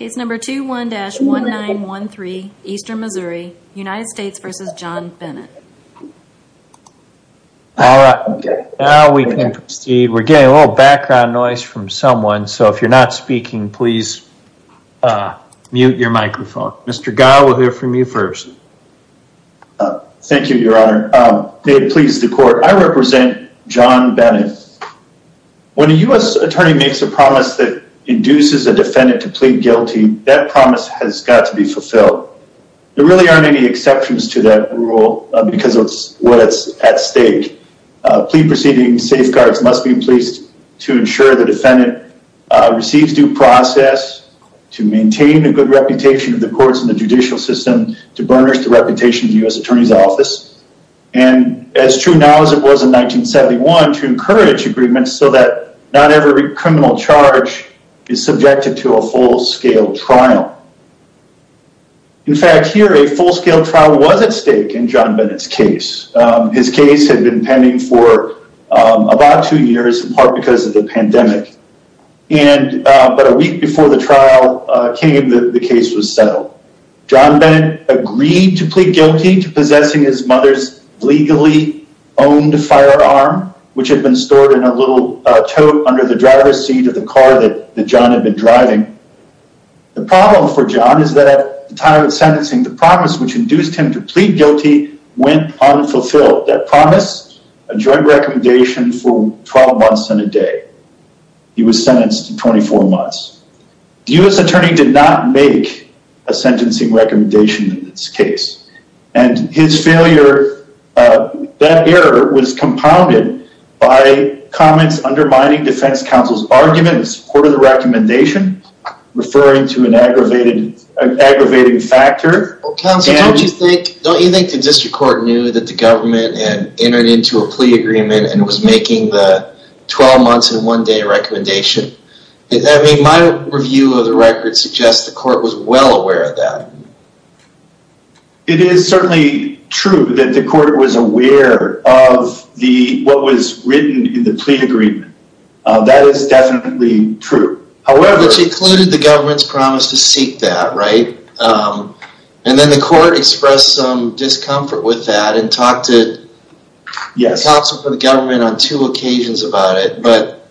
All right, now we can proceed. We're getting a little background noise from someone, so if you're not speaking, please mute your microphone. Mr. Gow, we'll hear from you first. Thank you, your honor. May it please the court, I represent John Bennett. When a U.S. attorney makes a promise that induces a defendant to plead guilty, that promise has got to be fulfilled. There really aren't any exceptions to that rule because of what's at stake. Plead proceeding safeguards must be in place to ensure the defendant receives due process, to maintain a good reputation of the courts and the judicial system, to burnish the reputation of the U.S. attorney's office, and as true now as it was in 1971, to encourage agreements so that not criminal charge is subjected to a full-scale trial. In fact, here a full-scale trial was at stake in John Bennett's case. His case had been pending for about two years, in part because of the pandemic, and about a week before the trial came, the case was settled. John Bennett agreed to plead guilty to possessing his mother's legally owned firearm, which had been stored in a little under the driver's seat of the car that John had been driving. The problem for John is that at the time of sentencing, the promise which induced him to plead guilty went unfulfilled. That promise, a joint recommendation for 12 months and a day. He was sentenced to 24 months. The U.S. attorney did not make a sentencing recommendation in this case, and his failure, that error was compounded by comments undermining defense counsel's argument in support of the recommendation, referring to an aggravating factor. Counsel, don't you think the district court knew that the government had entered into a plea agreement and was making the 12 months and one day recommendation? I mean, my review of the record suggests the court was well aware of that. It is certainly true that the court was aware of what was written in the plea agreement. That is definitely true. However... Which included the government's promise to seek that, right? And then the court expressed some discomfort with that and talked to counsel for the government on two occasions about it, but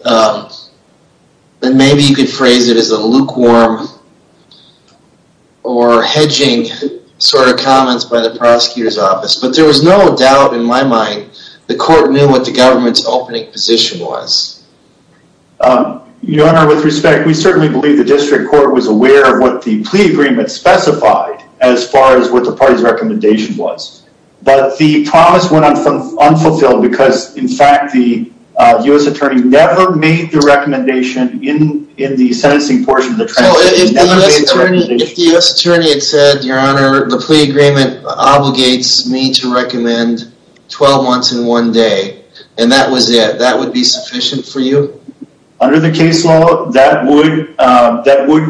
then maybe you could phrase it as a lukewarm or hedging sort of comments by the prosecutor's office, but there was no doubt in my mind the court knew what the government's opening position was. Your honor, with respect, we certainly believe the district court was aware of what the plea agreement specified as far as what the party's recommendation was, but the promise went on from unfulfilled because in fact the U.S. attorney never made the recommendation in the sentencing portion. If the U.S. attorney had said, your honor, the plea agreement obligates me to recommend 12 months and one day and that was it, that would be sufficient for you? Under the case law, that would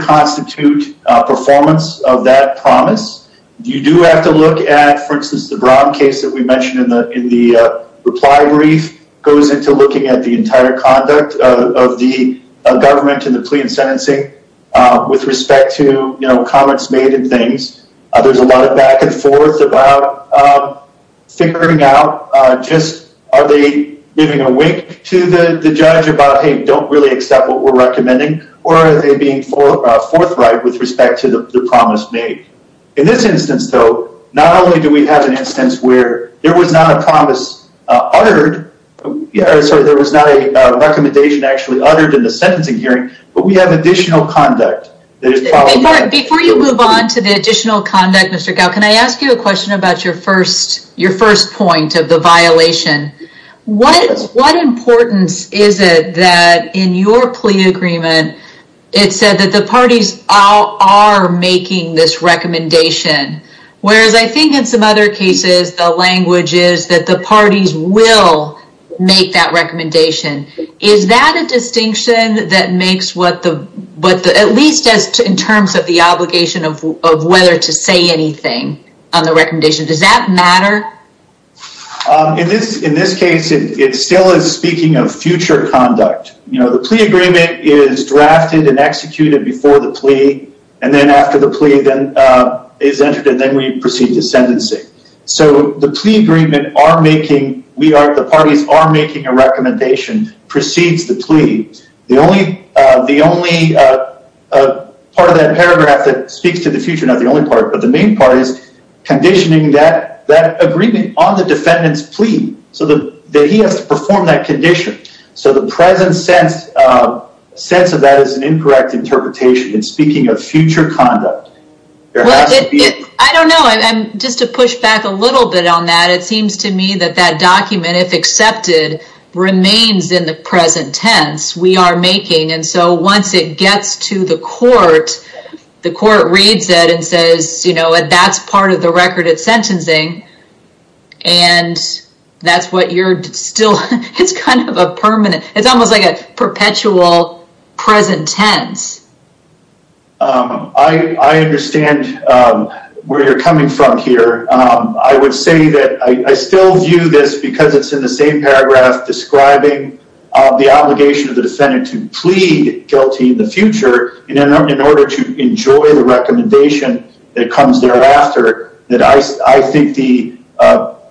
constitute a performance of that promise. You do have to add, for instance, the case that we mentioned in the reply brief goes into looking at the entire conduct of the government in the plea and sentencing with respect to comments made and things. There's a lot of back and forth about figuring out just are they giving a wink to the judge about, hey, don't really accept what we're recommending or are they being forthright with respect to the promise made. In this instance, though, not only do we have an instance where there was not a promise uttered, sorry, there was not a recommendation actually uttered in the sentencing hearing, but we have additional conduct. Before you move on to the additional conduct, Mr. Gow, can I ask you a question about your first point of the violation? What importance is it that in your plea agreement, it said that the parties are making this recommendation, whereas I think in some other cases, the language is that the parties will make that recommendation. Is that a distinction that makes what the, at least as in terms of the obligation of whether to say anything on the recommendation, does that matter? In this case, it still is speaking of future conduct. The plea agreement is drafted and executed before the plea, and then after the plea is entered, and then we proceed to sentencing. The plea agreement are making, the parties are making a recommendation precedes the plea. The only part of that paragraph that speaks to the future, not the only part, but the main part is conditioning that agreement on the defendant's condition. So the present sense of that is an incorrect interpretation. It's speaking of future conduct. I don't know. Just to push back a little bit on that, it seems to me that that document, if accepted, remains in the present tense. We are making, and so once it gets to the court, the court reads it and says, that's part of the record at sentencing, and that's what you're still, it's kind of a permanent, it's almost like a perpetual present tense. I understand where you're coming from here. I would say that I still view this because it's in the same paragraph describing the obligation of the defendant to plead guilty in the future in order to enjoy the recommendation that comes thereafter, that I think the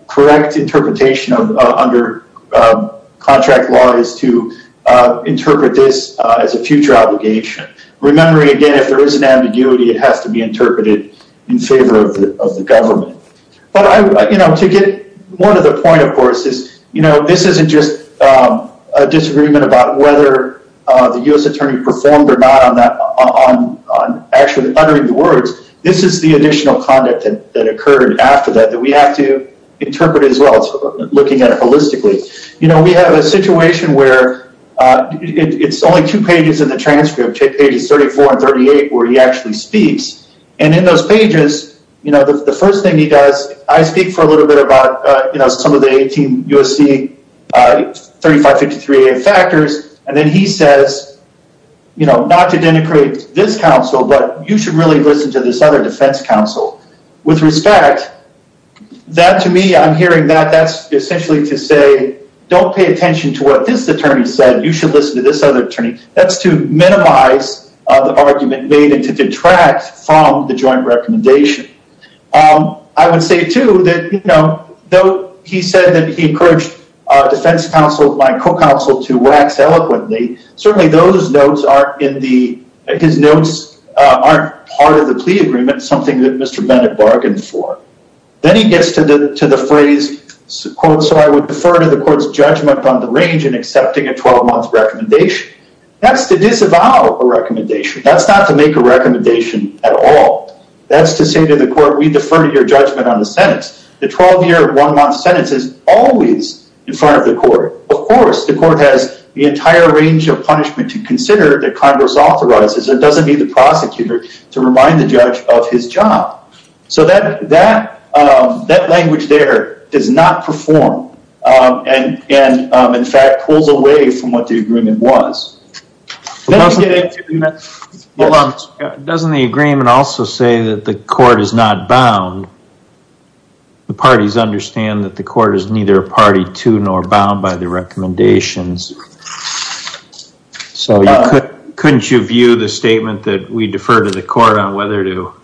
correct interpretation under contract law is to interpret this as a future obligation. Remembering, again, if there is an ambiguity, it has to be interpreted in favor of the government. But to get more to the point, of course, is this isn't just a disagreement about whether the U.S. attorney performed or not on actually uttering the words. This is the additional conduct that occurred after that that we have to interpret as well, looking at it holistically. We have a situation where it's only two pages in the transcript, pages 34 and 38, where he actually speaks. In those pages, the first thing he does, I speak for a little bit about some of the 18 U.S.C. 3553A factors, and then he says, not to denigrate this counsel, but you should really listen to this other defense counsel. With respect, that to me, I'm hearing that that's essentially to say, don't pay attention to what this attorney said. You should listen to this other attorney. That's to minimize the argument made and to detract from the joint recommendation. I would say, too, that though he said that he encouraged defense counsel, my co-counsel, to wax eloquently, certainly those notes aren't part of the plea agreement, something that Mr. Bennett bargained for. Then he gets to the phrase, so I would defer to the court's judgment on the range in accepting a 12-month recommendation. That's to disavow a recommendation. That's not to make a recommendation at all. That's to say to the court, we defer to your judgment on the sentence. The 12-year, one-month sentence is always in front of the court. Of course, the court has the entire range of punishment to consider that Congress authorizes. It doesn't need the prosecutor to remind the judge of his job. So that language there does not perform and, in fact, pulls away from what the agreement was. Doesn't the agreement also say that the court is not bound? The parties understand that the court is neither a party to nor bound by the recommendations. Couldn't you view the statement that we defer to the court on whether to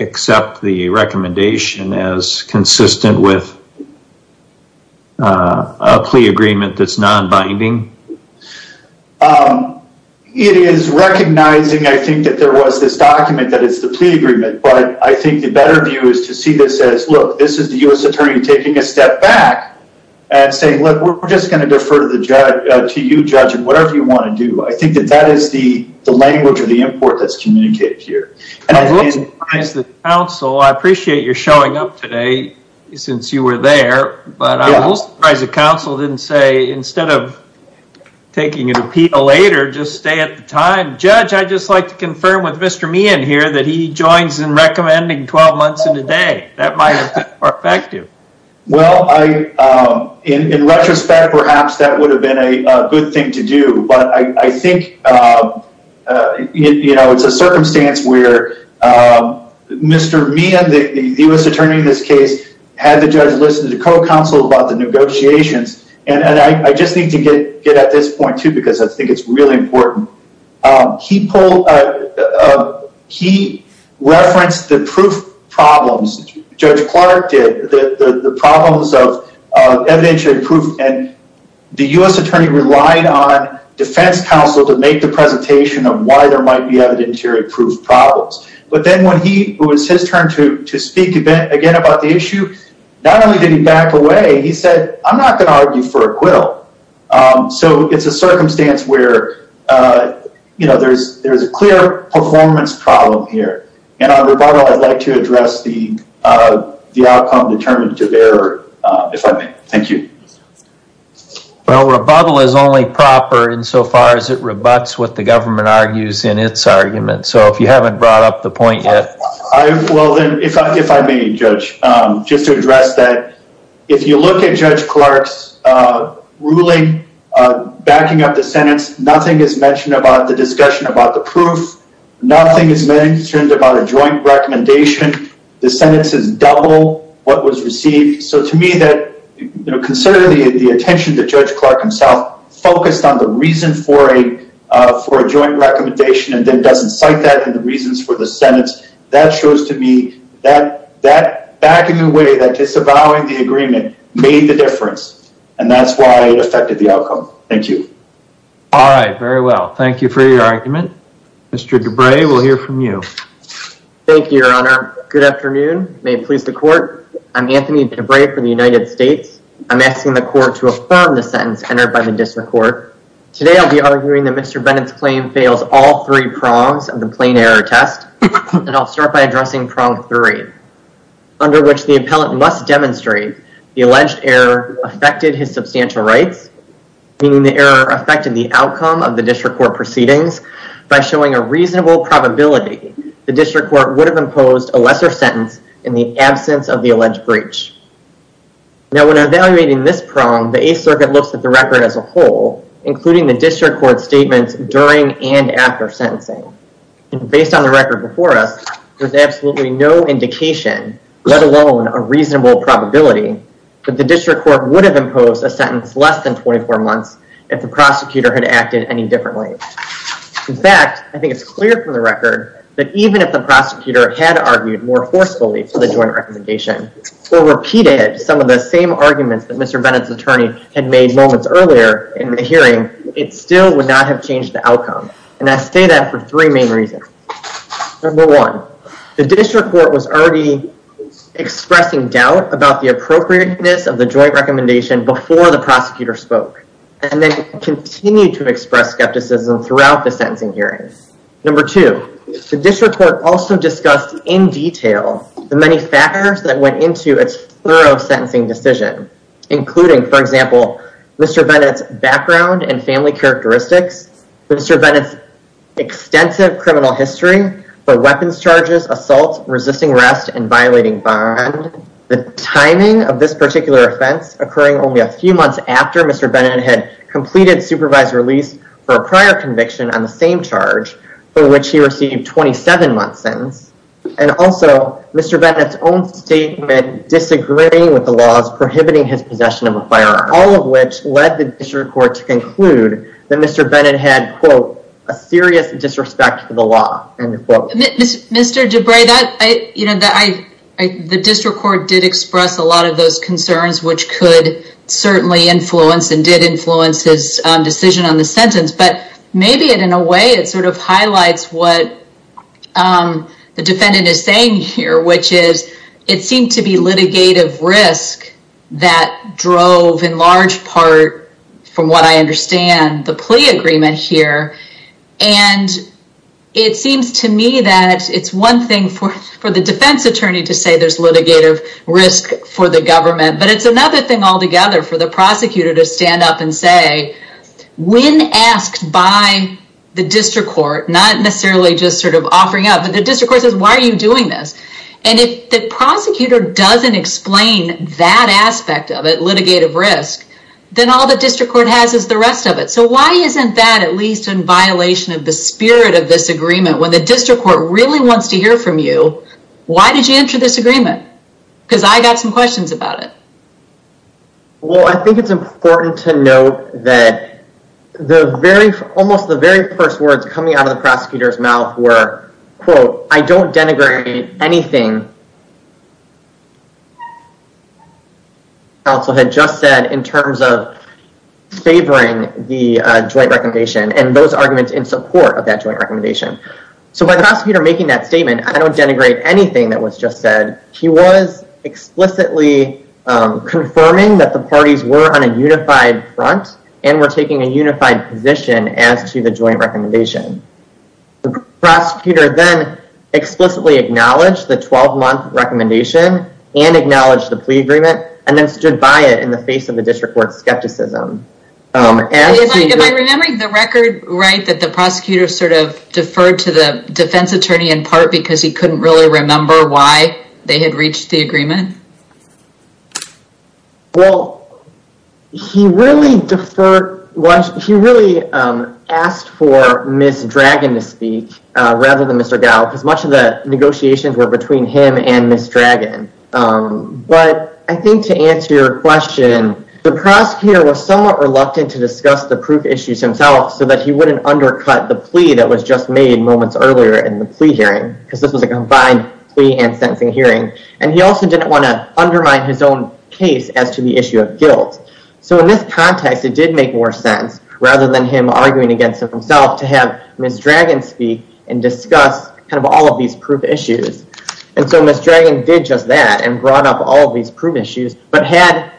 accept the recommendation as consistent with a plea agreement that's non-binding? It is recognizing, I think, that there was this document that it's the plea agreement, but I think the better view is to see this as, look, this is the U.S. attorney taking a step back and saying, look, we're just going to defer to you, judge, in whatever you want to do. I think that is the language or the import that's communicated here. I'm a little surprised that counsel, I appreciate you're showing up today since you were there, but I'm a little surprised that counsel didn't say, instead of taking an appeal later, just stay at the time. Judge, I'd just like to confirm with Mr. Meehan here that he joins in recommending 12 months and a day. That might have been more perhaps that would have been a good thing to do, but I think it's a circumstance where Mr. Meehan, the U.S. attorney in this case, had the judge listen to counsel about the negotiations and I just need to get at this point, too, because I think it's really important. He referenced the proof problems, Judge Clark did, the problems of evidentiary proof and the U.S. attorney relied on defense counsel to make the presentation of why there might be evidentiary proof problems, but then when it was his turn to speak again about the issue, not only did he back away, he said, I'm not going to argue for acquittal. So it's a circumstance where there's a clear performance problem here. And on rebuttal, I'd like to address the outcome determined to bear, if I may. Thank you. Well, rebuttal is only proper insofar as it rebuts what the government argues in its argument. So if you haven't brought up the point yet. Well, then, if I may, Judge, just to address that, if you look at Judge Clark's ruling backing up the sentence, nothing is mentioned about the discussion about the proof. Nothing is mentioned about a joint recommendation. The sentence is double what was received. So to me, considering the attention that Judge Clark himself focused on the reason for a joint recommendation and then doesn't cite that and the reasons for the sentence, that shows to me that backing away, that disavowing the agreement made the difference. And that's why it affected the outcome. Thank you. All right. Very well. Thank you for your argument. Mr. DeBray, we'll hear from you. Thank you, Your Honor. Good afternoon. May it please the court. I'm Anthony DeBray for the United States. I'm asking the court to affirm the sentence entered by the district court. Today, I'll be arguing that Mr. Bennett's claim fails all three prongs of the plain error test. And I'll start by addressing prong three, under which the appellant must demonstrate the meaning the error affected the outcome of the district court proceedings by showing a reasonable probability the district court would have imposed a lesser sentence in the absence of the alleged breach. Now, when evaluating this prong, the Eighth Circuit looks at the record as a whole, including the district court statements during and after sentencing. And based on the record before us, there's absolutely no indication, let alone a reasonable probability, that the district court would have imposed a sentence less than 24 months if the prosecutor had acted any differently. In fact, I think it's clear from the record that even if the prosecutor had argued more forcefully for the joint recommendation or repeated some of the same arguments that Mr. Bennett's attorney had made moments earlier in the hearing, it still would not have changed the outcome. And I say that for three main reasons. Number one, the district court was already expressing doubt about the appropriateness of the joint recommendation before the prosecutor spoke, and then continued to express skepticism throughout the sentencing hearings. Number two, the district court also discussed in detail the many factors that went into its thorough sentencing decision, including, for example, Mr. Bennett's background and family characteristics, Mr. Bennett's extensive criminal history for weapons charges, assaults, resisting arrest, and violating bond. The timing of this particular offense occurring only a few months after Mr. Bennett had completed supervised release for a prior conviction on the same charge, for which he received 27 months sentence. And also, Mr. Bennett's own statement disagreeing with the laws prohibiting his possession of a firearm. All of which led the district court to The district court did express a lot of those concerns, which could certainly influence and did influence his decision on the sentence. But maybe in a way, it sort of highlights what the defendant is saying here, which is, it seemed to be litigative risk that drove in large part, from what I understand, the plea agreement here. And it seems to me that it's one thing for the defense attorney to say there's litigative risk for the government. But it's another thing altogether for the prosecutor to stand up and say, when asked by the district court, not necessarily just sort of offering up, but the district court says, why are you doing this? And if the prosecutor doesn't explain that aspect of it, litigative risk, then all the district court has is the rest of it. So why isn't that at least in violation of the spirit of this agreement? And if the defendant wants to hear from you, why did you enter this agreement? Because I got some questions about it. Well, I think it's important to note that the very, almost the very first words coming out of the prosecutor's mouth were, quote, I don't denigrate anything the counsel had just said in terms of favoring the joint recommendation. So by the prosecutor making that statement, I don't denigrate anything that was just said. He was explicitly confirming that the parties were on a unified front and were taking a unified position as to the joint recommendation. The prosecutor then explicitly acknowledged the 12-month recommendation and acknowledged the plea agreement and then stood by it in the face of the deferred to the defense attorney in part because he couldn't really remember why they had reached the agreement. Well, he really deferred, he really asked for Ms. Dragon to speak rather than Mr. Gow because much of the negotiations were between him and Ms. Dragon. But I think to answer your question, the prosecutor was somewhat reluctant to discuss the proof issues himself so that he wouldn't undercut the plea that was just made moments earlier in the plea hearing because this was a combined plea and sentencing hearing. And he also didn't want to undermine his own case as to the issue of guilt. So in this context, it did make more sense rather than him arguing against himself to have Ms. Dragon speak and discuss kind of all of these proof issues. And so Ms. Dragon did just that and brought up all of these proof issues. But had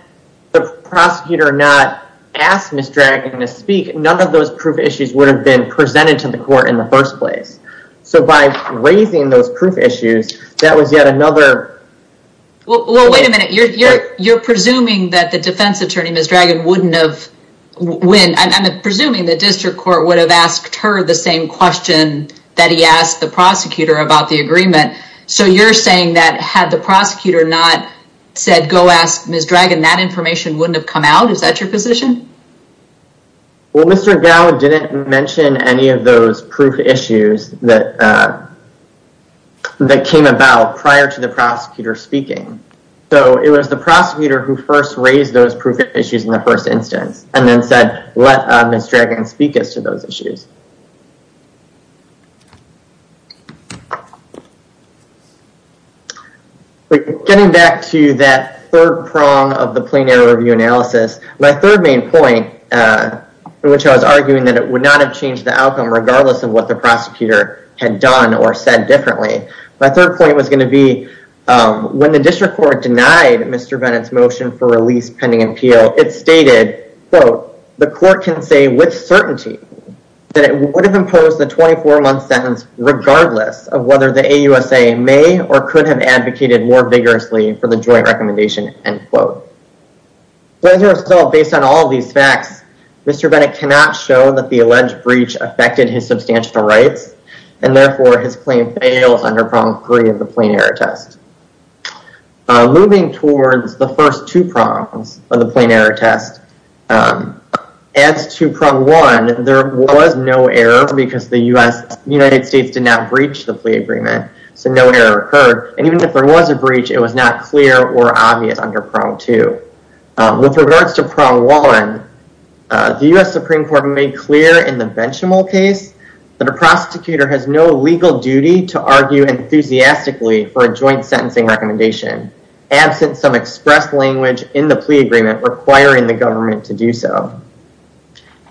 the prosecutor not asked Ms. Dragon to speak, none of those proof issues would have been presented to the court in the first place. So by raising those proof issues, that was yet another... Well, wait a minute. You're presuming that the defense attorney, Ms. Dragon, wouldn't have win. I'm presuming the district court would have asked her the same question that he asked the prosecutor about the agreement. So you're saying that had the prosecutor not said, Ms. Dragon, that information wouldn't have come out. Is that your position? Well, Mr. Gow didn't mention any of those proof issues that came about prior to the prosecutor speaking. So it was the prosecutor who first raised those proof issues in the first instance and then said, let Ms. Dragon speak as to those issues. Getting back to that third prong of the plenary review analysis, my third main point, which I was arguing that it would not have changed the outcome regardless of what the prosecutor had done or said differently. My third point was going to be when the district court denied Mr. Bennett's motion for release pending appeal, it stated, quote, the court can say with certainty that it would have imposed the 24-month sentence regardless of whether the AUSA may or could have advocated more vigorously for the joint recommendation, end quote. But as a result, based on all of these facts, Mr. Bennett cannot show that the alleged breach affected his substantial rights and therefore his claim fails under prong three of the plenary test. Moving towards the first two prongs of the plenary test, as to prong one, there was no error because the United States did not breach the plea agreement. So no error occurred. And even if there was a breach, it was not clear or obvious under prong two. With regards to prong one, the US Supreme Court made clear in the Benchamol case that a prosecutor has no legal duty to argue enthusiastically for a joint sentencing recommendation, absent some express language in the plea agreement requiring the government to do so.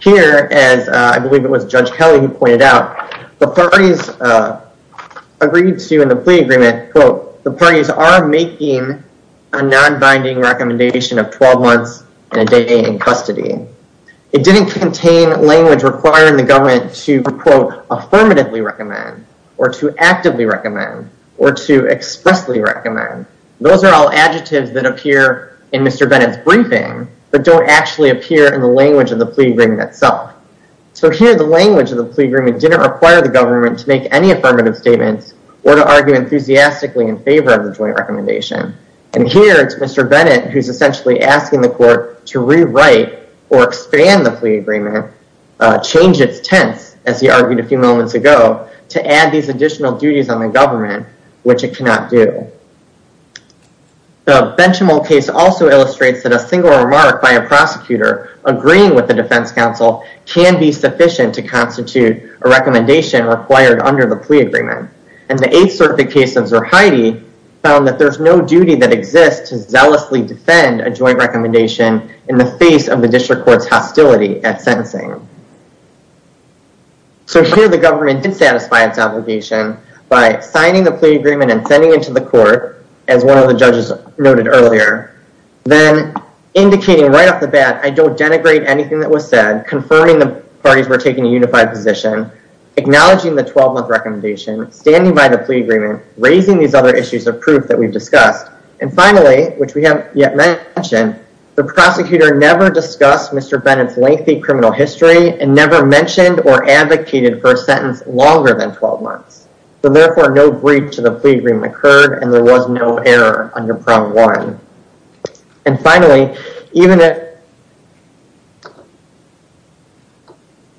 Here, as I believe it was Judge Kelly who pointed out, the parties agreed to in the plea agreement, quote, the parties are making a non-binding recommendation of 12 months and a day in or to actively recommend or to expressly recommend. Those are all adjectives that appear in Mr. Bennett's briefing, but don't actually appear in the language of the plea agreement itself. So here, the language of the plea agreement didn't require the government to make any affirmative statements or to argue enthusiastically in favor of the joint recommendation. And here, it's Mr. Bennett who's essentially asking the court to rewrite or expand the plea to add these additional duties on the government, which it cannot do. The Benchamol case also illustrates that a single remark by a prosecutor agreeing with the defense counsel can be sufficient to constitute a recommendation required under the plea agreement. And the 8th Circuit case of Zerhide found that there's no duty that exists to zealously defend a joint recommendation in the face of the district court's hostility at sentencing. So here, the government did satisfy its obligation by signing the plea agreement and sending it to the court, as one of the judges noted earlier, then indicating right off the bat, I don't denigrate anything that was said, confirming the parties were taking a unified position, acknowledging the 12-month recommendation, standing by the plea agreement, raising these other issues of proof that we've discussed. And finally, which we haven't yet mentioned, the prosecutor never discussed Mr. Bennett's lengthy criminal history and never mentioned or advocated for a sentence longer than 12 months. So therefore, no breach of the plea agreement occurred and there was no error under prong one. And finally, even if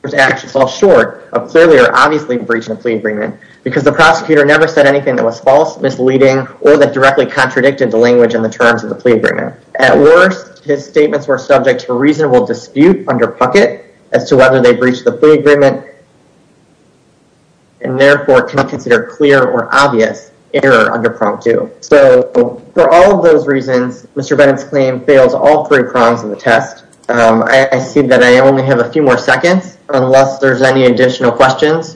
there's actions all short of clearly or obviously breaching the plea agreement, because the prosecutor never said anything that was false, misleading, or that directly contradicted the language and the terms of the plea agreement. At worst, his statements were subject to reasonable dispute under pucket as to whether they breached the plea agreement and therefore cannot consider clear or obvious error under prong two. So for all of those reasons, Mr. Bennett's claim fails all three prongs of the test. I see that I only have a few more seconds, unless there's any additional questions.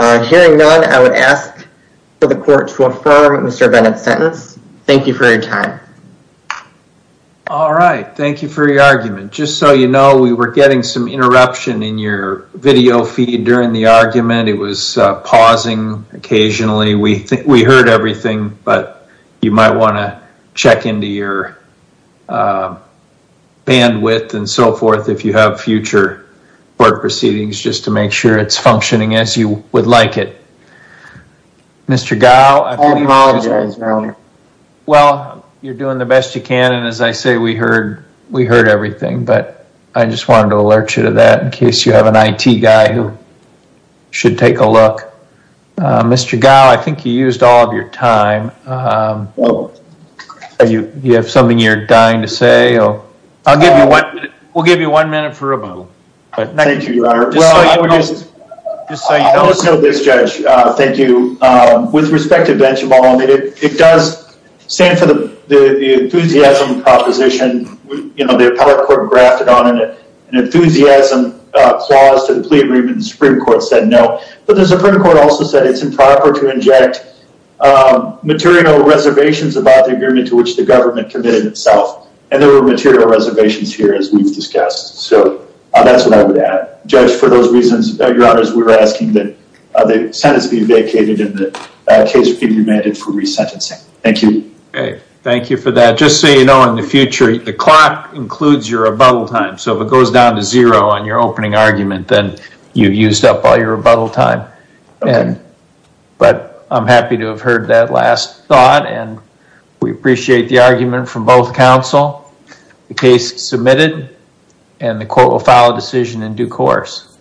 Hearing none, I would ask for the court to affirm Mr. Bennett's sentence. Thank you for your time. All right. Thank you for your argument. Just so you know, we were getting some interruption in your video feed during the argument. It was pausing occasionally. We heard everything, but you might want to check into your bandwidth and so forth if you have future court proceedings, just to make sure it's functioning as you would like it. Mr. Gao, I apologize. Well, you're doing the best you can. And as I say, we heard everything, but I just wanted to alert you to that in case you have an IT guy who should take a look. Mr. Gao, I think you used all of your time. You have something you're dying to say? I'll give you one minute. We'll give you one minute for a rebuttal. Thank you, Your Honor. Just so you know. I'll just note this, Judge. Thank you. With respect to Benchimol, it does stand for the enthusiasm proposition. The appellate court grafted on it an enthusiasm clause to the plea agreement. The Supreme Court said no. But the Supreme Court also said it's improper to inject material reservations about the agreement to which the government committed itself. And there were material reservations here, as we've discussed. So that's what I would add. Judge, for those reasons, Your Honor, we're asking that the sentence be vacated and the case be remanded for resentencing. Thank you. Okay. Thank you for that. Just so you know, in the future, the clock includes your rebuttal time. So if it goes down to zero on your opening argument, then you've used up all your rebuttal time. But I'm happy to have heard that last thought and we appreciate the argument from both counsel. The case is submitted and the court will file a decision in due course.